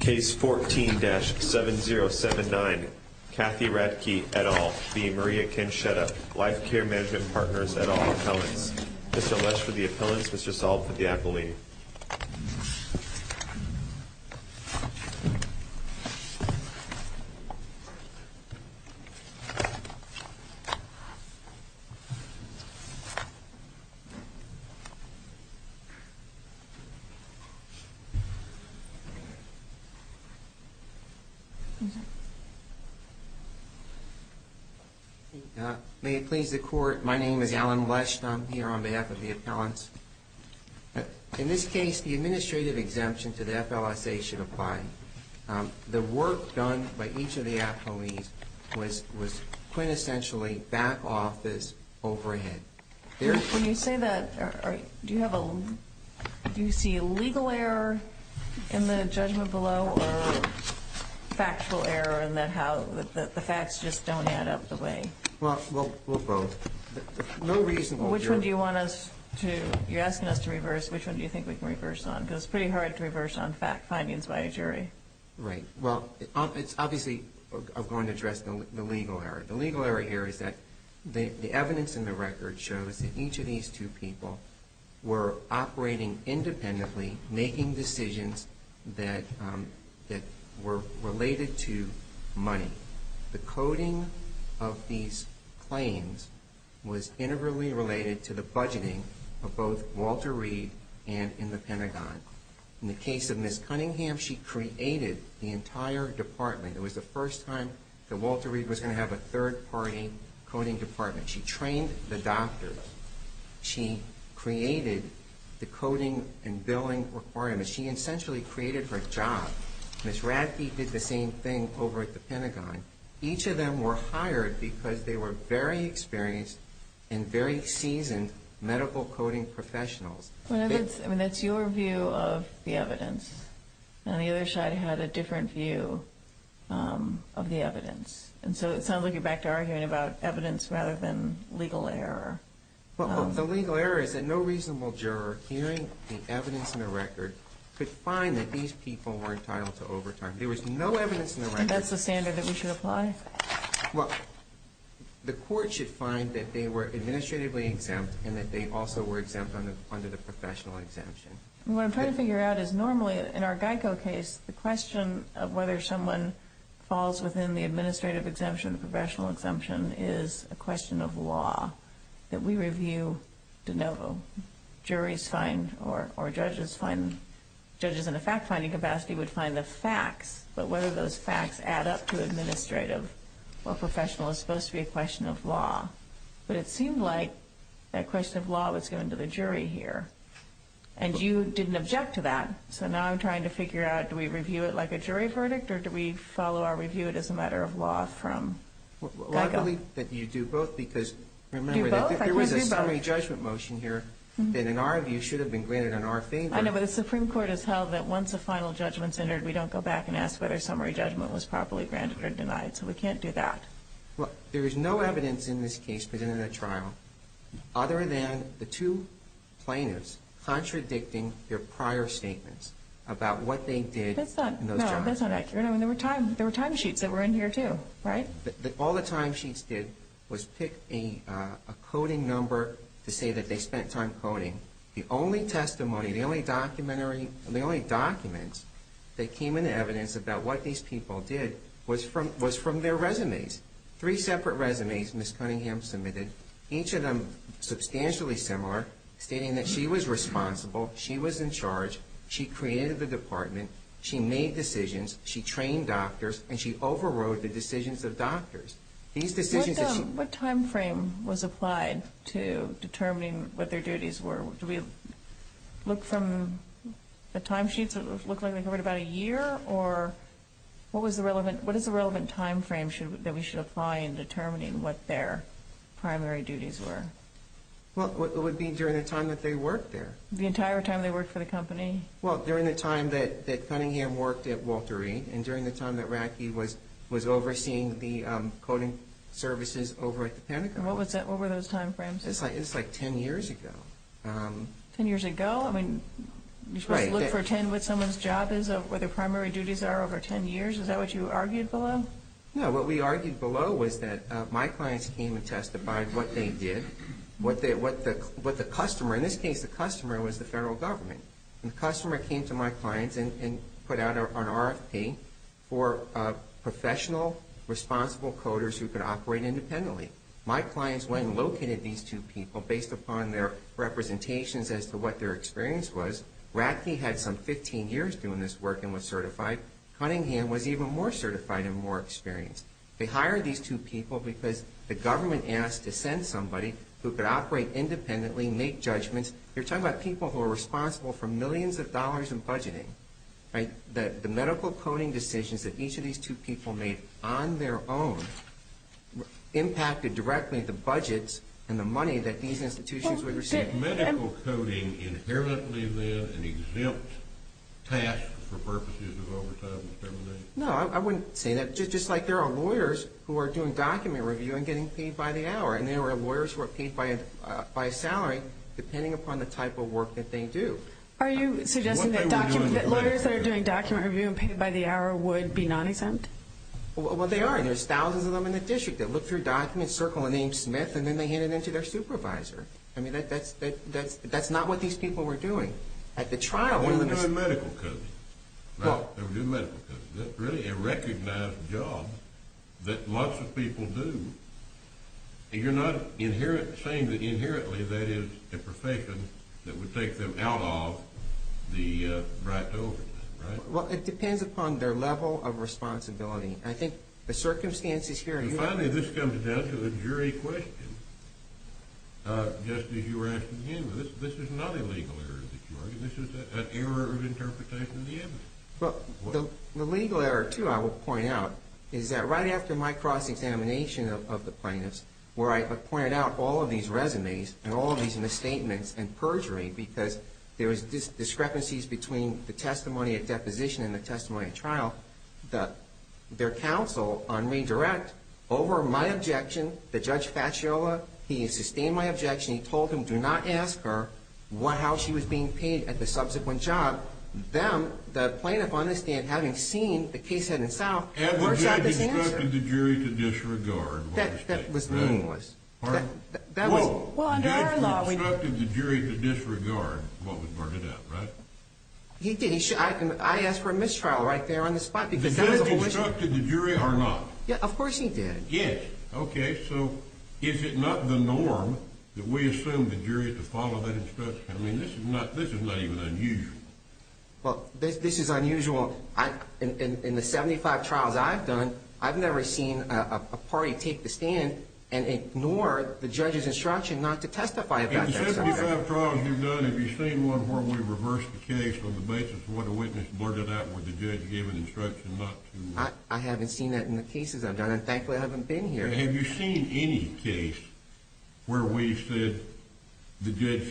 Case 14-7079 Kathy Radtke, et al. v. Maria Caschetta, Life Care Management Partners, et al. Appellants Mr. Lesch for the Appellants, Mr. Salt for the Appellant May it please the Court, my name is Alan Lesch and I'm here on behalf of the Appellants. In this case, the administrative exemption to the FLSA should apply. The work done by each of the appellees was quintessentially back office overhead. When you say that, do you see a legal error in the judgment below or factual error in that the facts just don't add up the way? Well, we'll vote. No reason. Which one do you want us to, you're asking us to reverse, which one do you think we can reverse on? Because it's pretty hard to reverse on findings by a jury. Right. Well, it's obviously, I'm going to address the legal error. The legal error here is that the evidence in the record shows that each of these two people were operating independently, making decisions that were related to money. The coding of these claims was integrally related to the budgeting of both Walter Reed and in the Pentagon. In the case of Ms. Cunningham, she created the entire department. It was the first time that Walter Reed was going to have a third party coding department. She trained the doctors. She created the coding and billing requirements. She essentially created her job. Ms. Radtke did the same thing over at the Pentagon. Each of them were hired because they were very experienced and very seasoned medical coding professionals. I mean, that's your view of the evidence. And on the other side, I had a different view of the evidence. And so it sounds like you're back to arguing about evidence rather than legal error. Well, the legal error is that no reasonable juror hearing the evidence in the record could find that these people were entitled to overtime. There was no evidence in the record. And that's the standard that we should apply? Well, the court should find that they were administratively exempt and that they also were exempt under the professional exemption. What I'm trying to figure out is normally in our GEICO case, the question of whether someone falls within the administrative exemption, the professional exemption, is a question of law that we review de novo. Judges in a fact-finding capacity would find the facts, but whether those facts add up to administrative or professional is supposed to be a question of law. But it seemed like that question of law was given to the jury here. And you didn't object to that. So now I'm trying to figure out, do we review it like a jury verdict or do we follow our review as a matter of law from GEICO? Well, I believe that you do both because remember that there was a summary judgment motion here that in our view should have been granted in our favor. I know, but the Supreme Court has held that once a final judgment's entered, we don't go back and ask whether summary judgment was properly granted or denied. So we can't do that. Well, there is no evidence in this case presented at trial other than the two plaintiffs contradicting their prior statements about what they did in those trials. That's not accurate. I mean, there were timesheets that were in here, too, right? All the timesheets did was pick a coding number to say that they spent time coding. The only testimony, the only documentary, the only documents that came into evidence about what these people did was from their resumes. Three separate resumes Ms. Cunningham submitted, each of them substantially similar, stating that she was responsible, she was in charge, she created the department, she made decisions, she trained doctors, and she overrode the decisions of doctors. What time frame was applied to determining what their duties were? Do we look from the timesheets that look like they covered about a year, or what is the relevant time frame that we should apply in determining what their primary duties were? Well, it would be during the time that they worked there. The entire time they worked for the company? Well, during the time that Cunningham worked at Walter Reed, and during the time that Ratke was overseeing the coding services over at the Pentagon. What were those time frames? It's like ten years ago. Ten years ago? I mean, you're supposed to look for ten what someone's job is, what their primary duties are over ten years? Is that what you argued below? No, what we argued below was that my clients came and testified what they did, what the customer, in this case the customer was the federal government. And the customer came to my clients and put out an RFP for professional, responsible coders who could operate independently. My clients went and located these two people based upon their representations as to what their experience was. Ratke had some 15 years doing this work and was certified. Cunningham was even more certified and more experienced. They hired these two people because the government asked to send somebody who could operate independently, make judgments. You're talking about people who are responsible for millions of dollars in budgeting, right? The medical coding decisions that each of these two people made on their own impacted directly the budgets and the money that these institutions would receive. Was medical coding inherently then an exempt task for purposes of overtime and extermination? No, I wouldn't say that. It's just like there are lawyers who are doing document review and getting paid by the hour, and there are lawyers who are paid by a salary depending upon the type of work that they do. Are you suggesting that lawyers that are doing document review and paid by the hour would be non-exempt? Well, they are, and there's thousands of them in the district that look through documents, circle the name Smith, and then they hand it in to their supervisor. I mean, that's not what these people were doing. They were doing medical coding. They were doing medical coding. That's really a recognized job that lots of people do. You're not saying that inherently that is a profession that would take them out of the right to overtime, right? Well, it depends upon their level of responsibility. I think the circumstances here are unique. Finally, this comes down to the jury question. Just as you were asking, this is not a legal error that you argue. This is an error of interpretation of the evidence. Well, the legal error, too, I will point out is that right after my cross-examination of the plaintiffs, where I pointed out all of these resumes and all of these misstatements and perjury because there was discrepancies between the testimony at deposition and the testimony at trial, their counsel on me direct over my objection, the Judge Facciola. He sustained my objection. He told him do not ask her how she was being paid at the subsequent job. Them, the plaintiff on the stand, having seen the case head and south, works out this answer. Had the judge instructed the jury to disregard what was stated, right? That was meaningless. Well, under our law, we do. The judge instructed the jury to disregard what was worded out, right? He did. Judge, I ask for a mistrial right there on the spot. The judge instructed the jury or not? Of course he did. Yes. Okay. So is it not the norm that we assume the jury to follow that instruction? I mean, this is not even unusual. Well, this is unusual. In the 75 trials I've done, I've never seen a party take the stand and ignore the judge's instruction not to testify about that. In the 75 trials you've done, have you seen one where we reverse the case on the basis of what a witness blurted out where the judge gave an instruction not to? I haven't seen that in the cases I've done, and thankfully I haven't been here. Have you seen any case where we've said the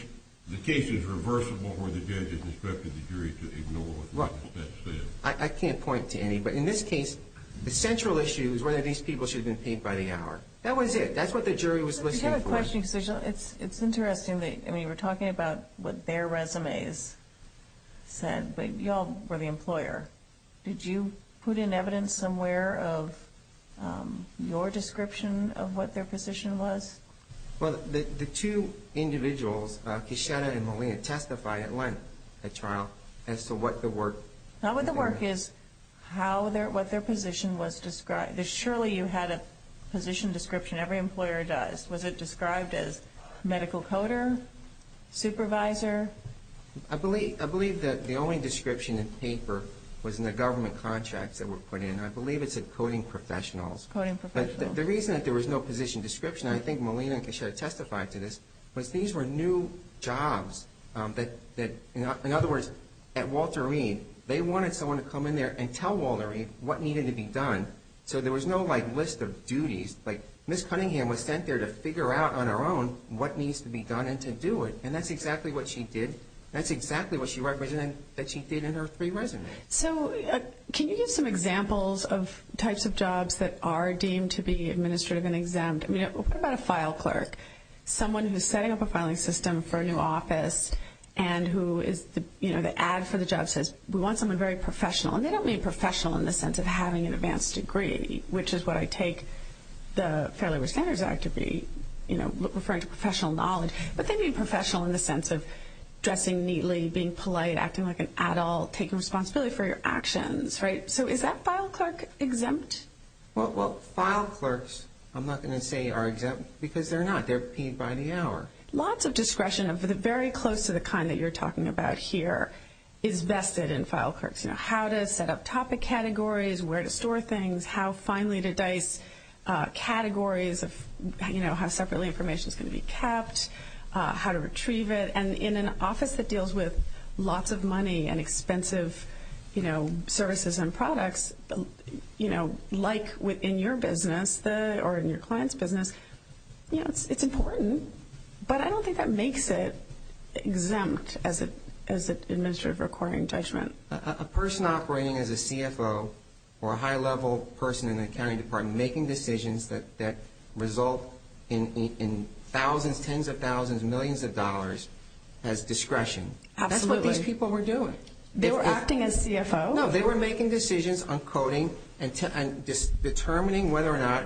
case is reversible where the judge has instructed the jury to ignore what was said? I can't point to any, but in this case, the central issue is whether these people should have been paid by the hour. That was it. That's what the jury was listening for. I have a question because it's interesting. I mean, you were talking about what their resumes said, but you all were the employer. Did you put in evidence somewhere of your description of what their position was? Well, the two individuals, Kishida and Molina, testified at length at trial as to what the work. Not what the work is, what their position was described. Surely you had a position description. Every employer does. Was it described as medical coder, supervisor? I believe that the only description in the paper was in the government contracts that were put in. I believe it said coding professionals. Coding professionals. The reason that there was no position description, and I think Molina and Kishida testified to this, was these were new jobs that, in other words, at Walter Reed, they wanted someone to come in there and tell Walter Reed what needed to be done so there was no list of duties. Like Ms. Cunningham was sent there to figure out on her own what needs to be done and to do it, and that's exactly what she did. That's exactly what she represented that she did in her three resumes. So can you give some examples of types of jobs that are deemed to be administrative and exempt? I mean, what about a file clerk? Someone who's setting up a filing system for a new office and who is, you know, the ad for the job says, we want someone very professional, and they don't mean professional in the sense of having an advanced degree, which is what I take the Fair Labor Standards Act to be, you know, referring to professional knowledge, but they mean professional in the sense of dressing neatly, being polite, acting like an adult, taking responsibility for your actions, right? So is that file clerk exempt? Well, file clerks, I'm not going to say are exempt because they're not. They're paid by the hour. Lots of discretion of the very close to the kind that you're talking about here is vested in file clerks. You know, how to set up topic categories, where to store things, how finely to dice categories of, you know, how separately information is going to be kept, how to retrieve it. And in an office that deals with lots of money and expensive, you know, services and products, you know, like within your business or in your client's business, you know, it's important. But I don't think that makes it exempt as an administrative recording judgment. A person operating as a CFO or a high-level person in the accounting department making decisions that result in thousands, tens of thousands, millions of dollars as discretion. That's what these people were doing. They were acting as CFO? No, they were making decisions on coding and determining whether or not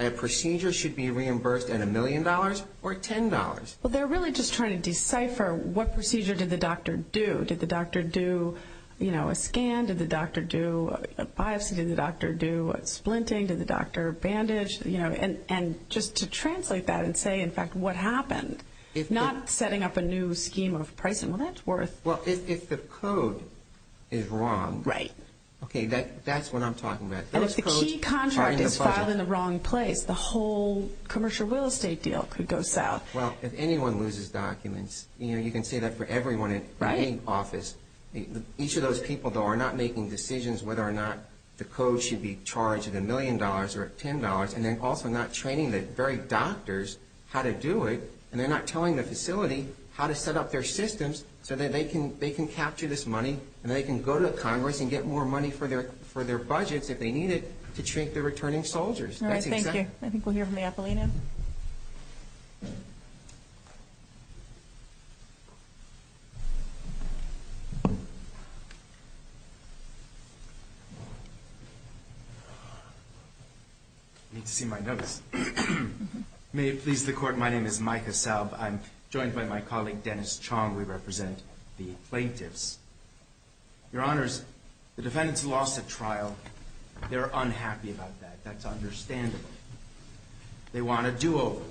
a procedure should be reimbursed at a million dollars or ten dollars. Well, they're really just trying to decipher what procedure did the doctor do? Did the doctor do, you know, a scan? Did the doctor do a biopsy? Did the doctor do a splinting? Did the doctor bandage? You know, and just to translate that and say, in fact, what happened? If not setting up a new scheme of pricing, well, that's worth. Well, if the code is wrong. Right. Okay, that's what I'm talking about. And if the key contract is filed in the wrong place, the whole commercial real estate deal could go south. Well, if anyone loses documents, you know, you can say that for everyone in any office. Each of those people, though, are not making decisions whether or not the code should be charged at a million dollars or at ten dollars, and they're also not training the very doctors how to do it, and they're not telling the facility how to set up their systems so that they can capture this money and they can go to Congress and get more money for their budgets if they need it to train the returning soldiers. All right, thank you. I think we'll hear from the appellee now. I need to see my notes. May it please the Court, my name is Micah Salve. I'm joined by my colleague Dennis Chong. We represent the plaintiffs. Your Honors, the defendants lost at trial. They're unhappy about that. That's understandable. They want a do-over.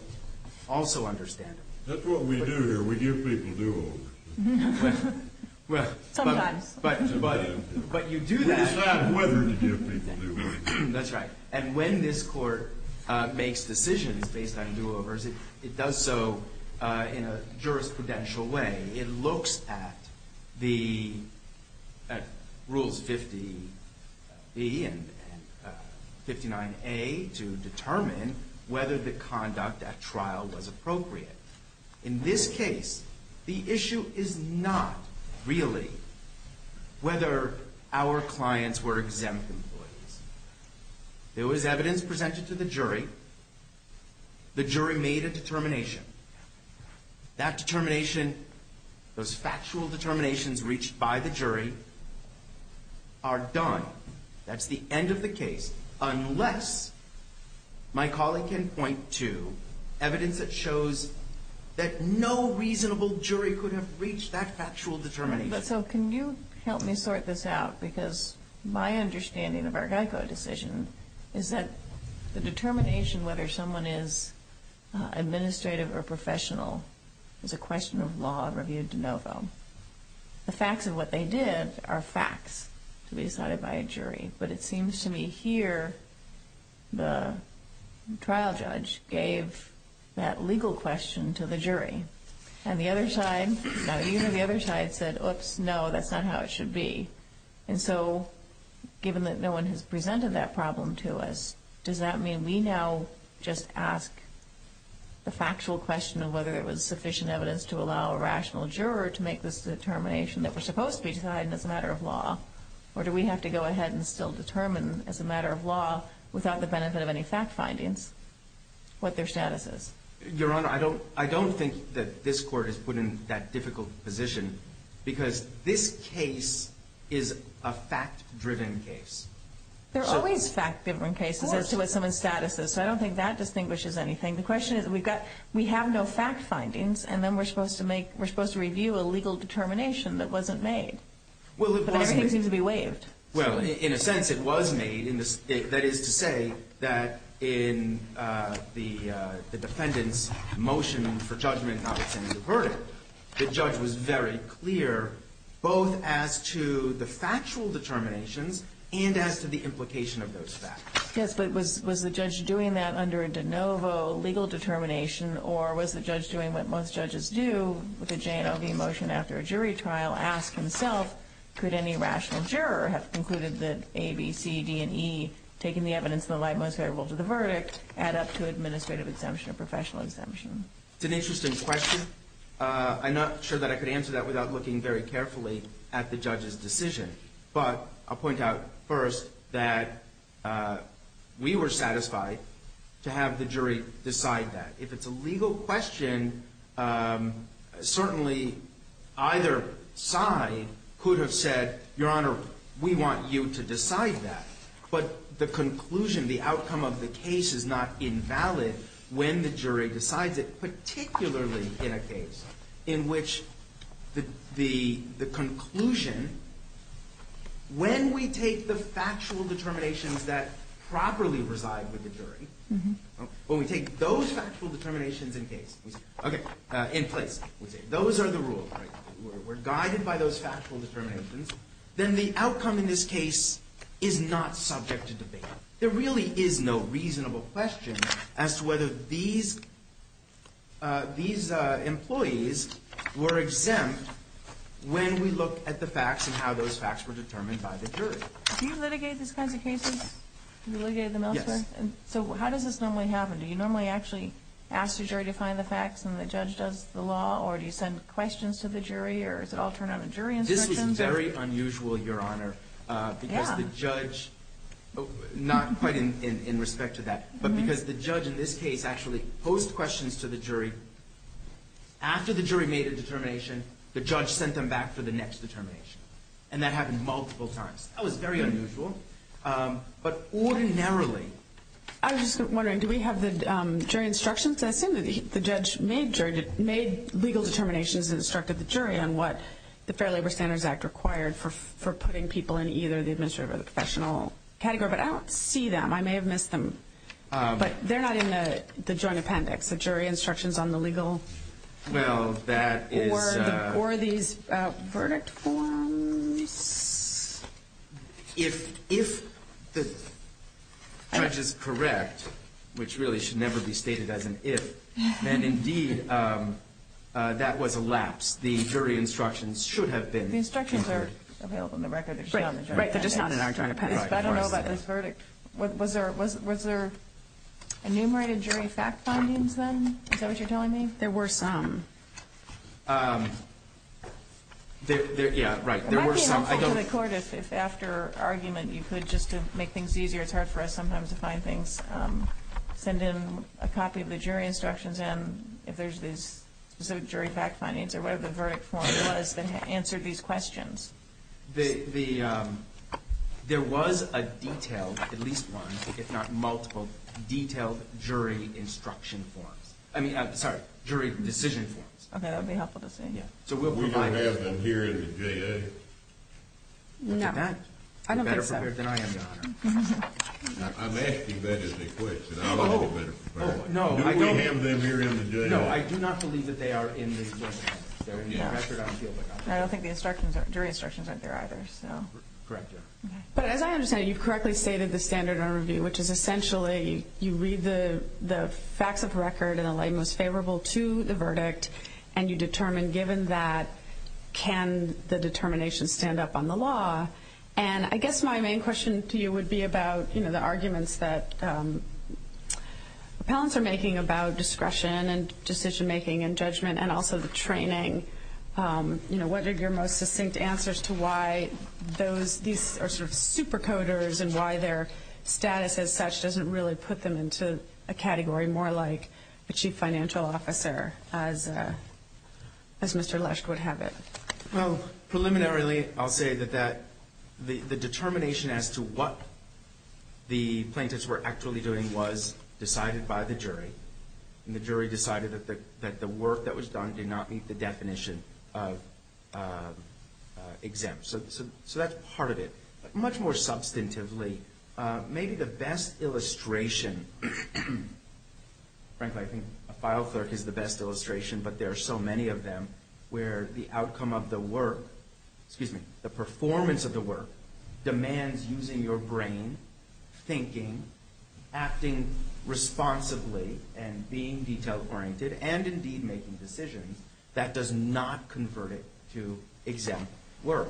Also understandable. That's what we do here. We give people do-overs. Sometimes. But you do that. We decide whether to give people do-overs. That's right. And when this Court makes decisions based on do-overs, it does so in a jurisprudential way. It looks at the rules 50B and 59A to determine whether the conduct at trial was appropriate. In this case, the issue is not really whether our clients were exempt employees. There was evidence presented to the jury. The jury made a determination. That determination, those factual determinations reached by the jury, are done. That's the end of the case. Unless my colleague can point to evidence that shows that no reasonable jury could have reached that factual determination. So can you help me sort this out? Because my understanding of our GEICO decision is that the determination whether someone is administrative or professional is a question of law reviewed de novo. The facts of what they did are facts to be decided by a jury. But it seems to me here the trial judge gave that legal question to the jury. And the other side said, oops, no, that's not how it should be. And so given that no one has presented that problem to us, does that mean we now just ask the factual question of whether it was sufficient evidence to allow a rational juror to make this determination that was supposed to be decided as a matter of law? Or do we have to go ahead and still determine as a matter of law without the benefit of any fact findings what their status is? Your Honor, I don't think that this Court is put in that difficult position because this case is a fact-driven case. There are always fact-driven cases as to what someone's status is. So I don't think that distinguishes anything. The question is we have no fact findings, and then we're supposed to review a legal determination that wasn't made. But everything seems to be waived. Well, in a sense it was made. That is to say that in the defendant's motion for judgment, notwithstanding the verdict, the judge was very clear both as to the factual determinations and as to the implication of those facts. Yes, but was the judge doing that under a de novo legal determination, or was the judge doing what most judges do with a J&OV motion after a jury trial? Ask himself, could any rational juror have concluded that A, B, C, D, and E, taking the evidence that lied most favorable to the verdict, add up to administrative exemption or professional exemption? It's an interesting question. I'm not sure that I could answer that without looking very carefully at the judge's decision. But I'll point out first that we were satisfied to have the jury decide that. If it's a legal question, certainly either side could have said, Your Honor, we want you to decide that. But the conclusion, the outcome of the case is not invalid when the jury decides it, particularly in a case in which the conclusion, when we take the factual determinations that properly reside with the jury, when we take those factual determinations in place, those are the rules. We're guided by those factual determinations, then the outcome in this case is not subject to debate. There really is no reasonable question as to whether these employees were exempt when we look at the facts and how those facts were determined by the jury. Do you litigate these kinds of cases? Do you litigate them elsewhere? Yes. So how does this normally happen? Do you normally actually ask the jury to find the facts and the judge does the law, or do you send questions to the jury, or does it all turn out in jury instructions? This was very unusual, Your Honor, because the judge, not quite in respect to that, but because the judge in this case actually posed questions to the jury. After the jury made a determination, the judge sent them back for the next determination. And that happened multiple times. That was very unusual. But ordinarily. I was just wondering, do we have the jury instructions? I assume that the judge made legal determinations and instructed the jury on what the Fair Labor Standards Act required for putting people in either the administrative or the professional category. But I don't see them. I may have missed them. But they're not in the joint appendix, the jury instructions on the legal or these verdict forms. If the judge is correct, which really should never be stated as an if, then indeed that was a lapse. The jury instructions should have been. The instructions are available in the record. Right. They're just not in our joint appendix. But I don't know about this verdict. Was there enumerated jury fact findings then? Is that what you're telling me? There were some. Yeah, right. There were some. Am I being helpful to the court if after argument you could just to make things easier? It's hard for us sometimes to find things. Send in a copy of the jury instructions and if there's these specific jury fact findings or whatever the verdict form was that answered these questions. There was a detailed, at least one if not multiple, detailed jury instruction forms. I mean, sorry, jury decision forms. Okay. That would be helpful to see. We don't have them here in the J.A.? No. I don't think so. You're better prepared than I am, Your Honor. I'm asking that as a question. I'm a little better prepared. No, I don't. Do we have them here in the J.A.? No, I do not believe that they are in the joint appendix. They're in the record. I don't feel they are. I don't think the jury instructions aren't there either. Correct, Your Honor. Okay. But as I understand it, you've correctly stated the standard of review, which is essentially you read the facts of the record in the light most favorable to the verdict and you determine given that, can the determination stand up on the law? And I guess my main question to you would be about the arguments that appellants are making about discretion and decision making and judgment and also the training. You know, what are your most succinct answers to why these are sort of super coders and why their status as such doesn't really put them into a category more like a chief financial officer as Mr. Lesch would have it? Well, preliminarily, I'll say that the determination as to what the plaintiffs were actually doing was decided by the jury, and the jury decided that the work that was done did not meet the definition of exempt. So that's part of it. Much more substantively, maybe the best illustration, frankly, I think a file clerk is the best illustration, but there are so many of them where the outcome of the work, excuse me, the performance of the work demands using your brain, thinking, acting responsibly, and being detail-oriented, and indeed making decisions, that does not convert it to exempt work.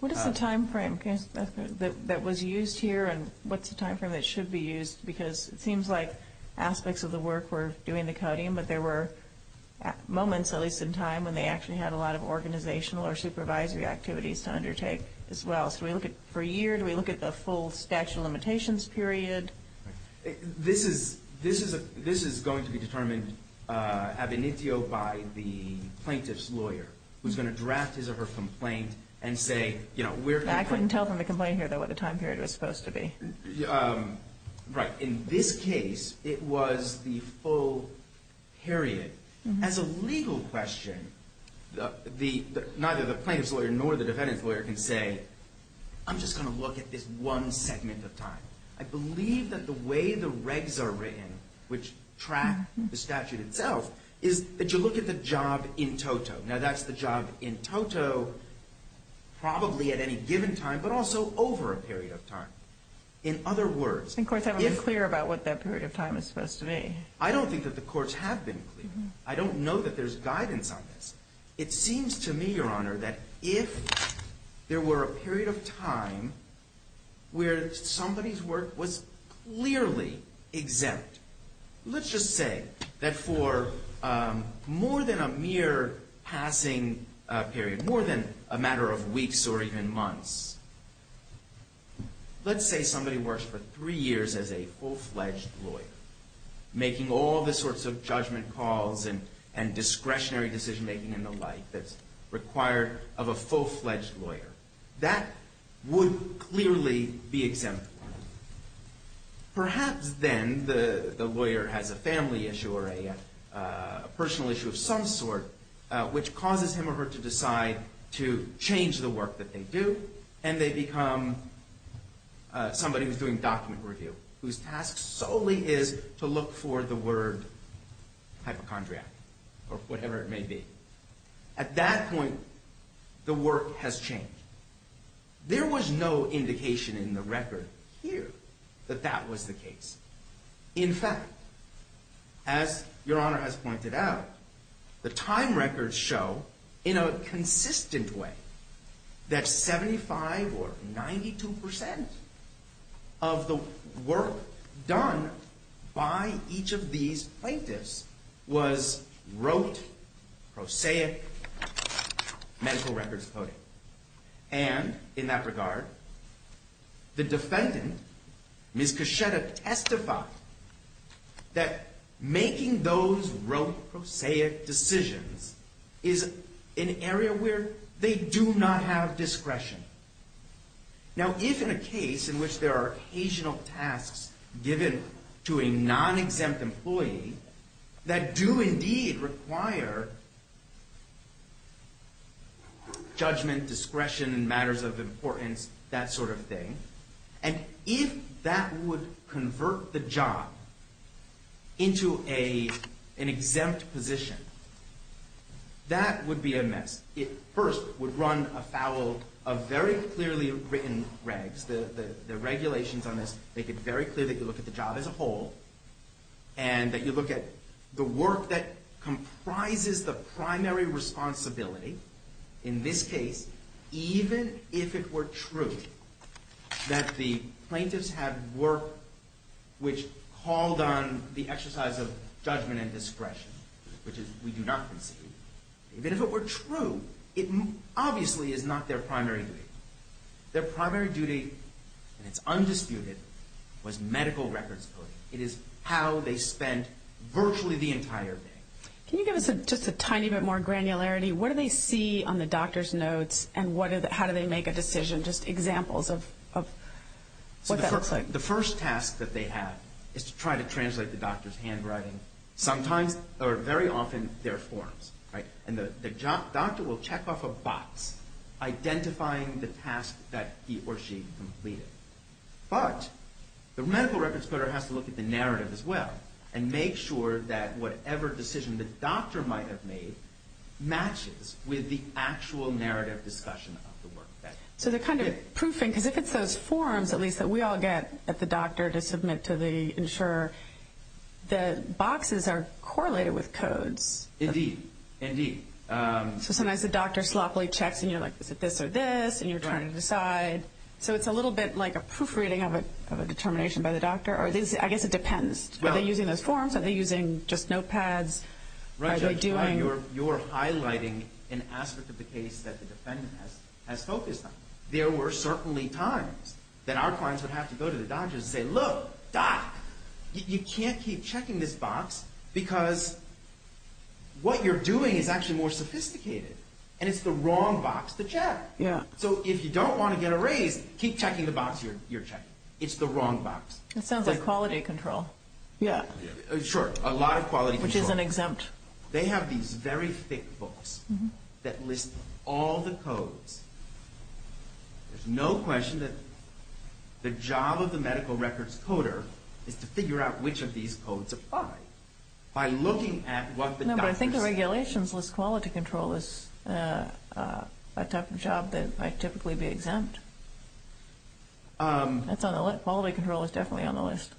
What is the time frame that was used here and what's the time frame that should be used? Because it seems like aspects of the work were doing the coding, but there were moments, at least in time, when they actually had a lot of organizational or supervisory activities to undertake as well. What else? Do we look at per year? Do we look at the full statute of limitations period? This is going to be determined ab initio by the plaintiff's lawyer, who's going to draft his or her complaint and say, you know, I couldn't tell from the complaint here, though, what the time period was supposed to be. Right. In this case, it was the full period. As a legal question, neither the plaintiff's lawyer nor the defendant's lawyer can say, I'm just going to look at this one segment of time. I believe that the way the regs are written, which track the statute itself, is that you look at the job in toto. Now, that's the job in toto probably at any given time, but also over a period of time. In other words, if— And courts haven't been clear about what that period of time is supposed to be. I don't think that the courts have been clear. I don't know that there's guidance on this. It seems to me, Your Honor, that if there were a period of time where somebody's work was clearly exempt, let's just say that for more than a mere passing period, more than a matter of weeks or even months, let's say somebody works for three years as a full-fledged lawyer, making all the sorts of judgment calls and discretionary decision-making and the like that's required of a full-fledged lawyer. That would clearly be exempt. Perhaps then the lawyer has a family issue or a personal issue of some sort, which causes him or her to decide to change the work that they do, and they become somebody who's doing document review, whose task solely is to look for the word hypochondriac or whatever it may be. At that point, the work has changed. There was no indication in the record here that that was the case. In fact, as Your Honor has pointed out, the time records show in a consistent way that 75% or 92% of the work done by each of these plaintiffs was rote, prosaic medical records coding. And in that regard, the defendant, Ms. Kaschetta, testified that making those rote, prosaic decisions is an area where they do not have discretion. Now, if in a case in which there are occasional tasks given to a non-exempt employee that do indeed require judgment, discretion in matters of importance, that sort of thing, and if that would convert the job into an exempt position, that would be a mess. It first would run afoul of very clearly written regs. The regulations on this make it very clear that you look at the job as a whole and that you look at the work that comprises the primary responsibility. In this case, even if it were true that the plaintiffs had work which called on the exercise of judgment and discretion, which we do not concede, even if it were true, it obviously is not their primary duty. Their primary duty, and it's undisputed, was medical records coding. It is how they spent virtually the entire day. Can you give us just a tiny bit more granularity? What do they see on the doctor's notes, and how do they make a decision? Just examples of what that looks like. The first task that they have is to try to translate the doctor's handwriting, sometimes, or very often, their forms. And the doctor will check off a box identifying the task that he or she completed. But the medical records coder has to look at the narrative as well and make sure that whatever decision the doctor might have made matches with the actual narrative discussion of the work. So they're kind of proofing, because if it's those forms, at least, that we all get at the doctor to submit to the insurer, the boxes are correlated with codes. Indeed. Indeed. So sometimes the doctor sloppily checks, and you're like, is it this or this, and you're trying to decide. So it's a little bit like a proofreading of a determination by the doctor, or I guess it depends. Are they using those forms? Are they using just notepads? You're highlighting an aspect of the case that the defendant has focused on. There were certainly times that our clients would have to go to the doctors and say, look, doc, you can't keep checking this box because what you're doing is actually more sophisticated, and it's the wrong box to check. So if you don't want to get a raise, keep checking the box you're checking. It's the wrong box. That sounds like quality control. Yeah. Sure, a lot of quality control. Which isn't exempt. They have these very thick books that list all the codes. There's no question that the job of the medical records coder is to figure out which of these codes apply. No, but I think the regulations list quality control as a type of job that might typically be exempt. Quality control is definitely on the list.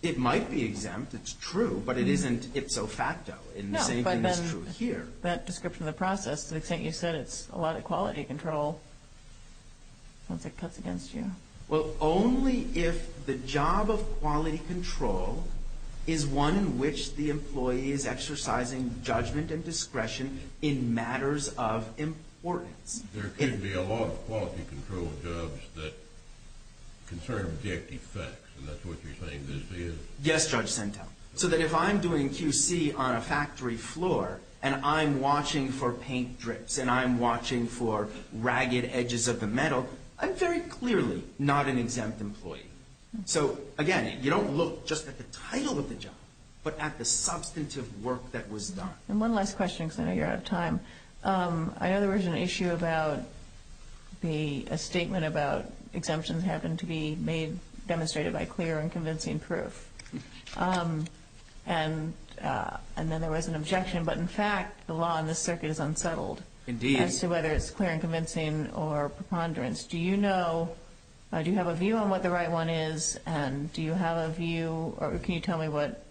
It might be exempt. It's true, but it isn't ipso facto. No, but then that description of the process, the extent you said it's a lot of quality control, sounds like it cuts against you. Well, only if the job of quality control is one in which the employee is exercising judgment and discretion in matters of importance. There could be a lot of quality control jobs that concern objective facts, and that's what you're saying this is. Yes, Judge Sentel. So that if I'm doing QC on a factory floor, and I'm watching for paint drips, and I'm watching for ragged edges of the metal, I'm very clearly not an exempt employee. So, again, you don't look just at the title of the job, but at the substantive work that was done. And one last question, because I know you're out of time. I know there was an issue about a statement about exemptions happened to be made, demonstrated by clear and convincing proof. And then there was an objection, but, in fact, the law in this circuit is unsettled. Indeed. As to whether it's clear and convincing or preponderance. Do you know, do you have a view on what the right one is, and do you have a view, or can you tell me what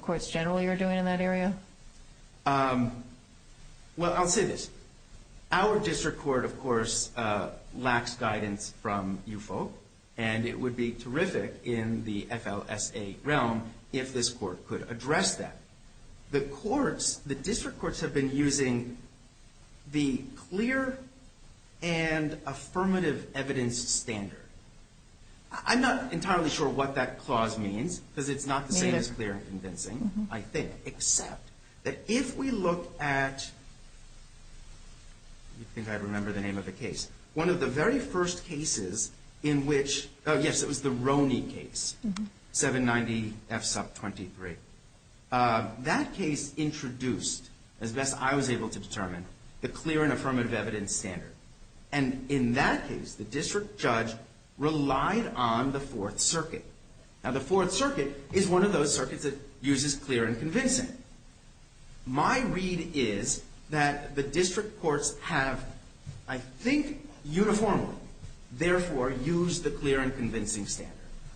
courts generally are doing in that area? Well, I'll say this. Our district court, of course, lacks guidance from you folk, and it would be terrific in the FLSA realm if this court could address that. The courts, the district courts have been using the clear and affirmative evidence standard. I'm not entirely sure what that clause means, because it's not the same as clear and convincing, I think, except that if we look at, I think I remember the name of the case, one of the very first cases in which, yes, it was the Roney case, 790F sub 23. That case introduced, as best I was able to determine, the clear and affirmative evidence standard. And in that case, the district judge relied on the Fourth Circuit. Now, the Fourth Circuit is one of those circuits that uses clear and convincing. And my read is that the district courts have, I think, uniformly, therefore, used the clear and convincing standard.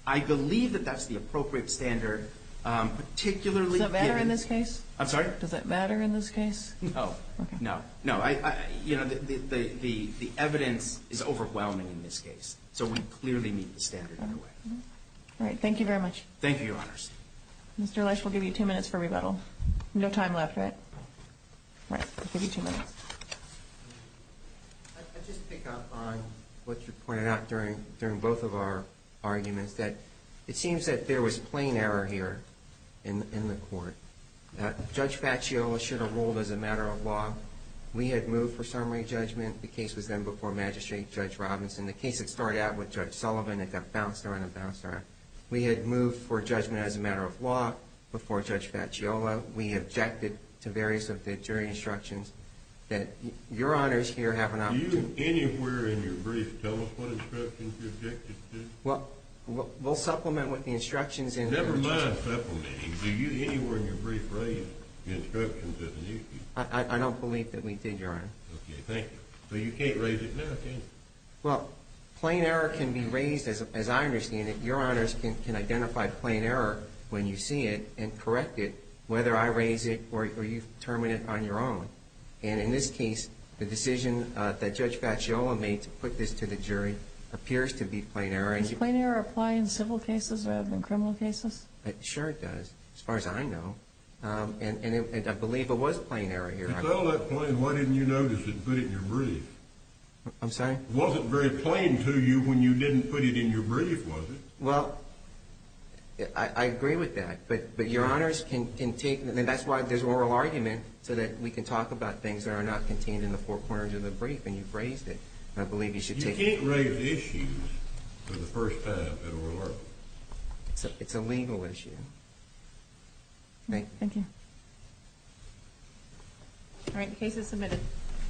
I believe that that's the appropriate standard, particularly given the ---- Does that matter in this case? I'm sorry? Does that matter in this case? No. Okay. No. No. You know, the evidence is overwhelming in this case, so we clearly meet the standard anyway. All right. Thank you very much. Thank you, Your Honors. Mr. Lesch, we'll give you two minutes for rebuttal. No time left, right? All right. We'll give you two minutes. I'd just pick up on what you pointed out during both of our arguments, that it seems that there was plain error here in the court. Judge Facciola should have ruled as a matter of law. We had moved for summary judgment. The case was then before Magistrate Judge Robinson. The case had started out with Judge Sullivan. It got bounced around and bounced around. We had moved for judgment as a matter of law before Judge Facciola. We objected to various of the jury instructions that Your Honors here have an opportunity ---- Do you anywhere in your brief tell us what instructions you objected to? Well, we'll supplement with the instructions in the ---- Never mind supplementing. Do you anywhere in your brief raise the instructions as needed? I don't believe that we did, Your Honor. Okay. Thank you. So you can't raise it now, can you? Well, plain error can be raised as I understand it. Your Honors can identify plain error when you see it and correct it, whether I raise it or you determine it on your own. And in this case, the decision that Judge Facciola made to put this to the jury appears to be plain error. Does plain error apply in civil cases rather than criminal cases? Sure it does, as far as I know. And I believe it was plain error here. If it's all that plain, why didn't you notice it and put it in your brief? I'm sorry? It wasn't very plain to you when you didn't put it in your brief, was it? Well, I agree with that. But Your Honors can take ---- And that's why there's an oral argument so that we can talk about things that are not contained in the four corners of the brief. And you've raised it. And I believe you should take it. You can't raise issues for the first time in an oral argument. It's a legal issue. Thank you. Thank you. All right. The case is submitted.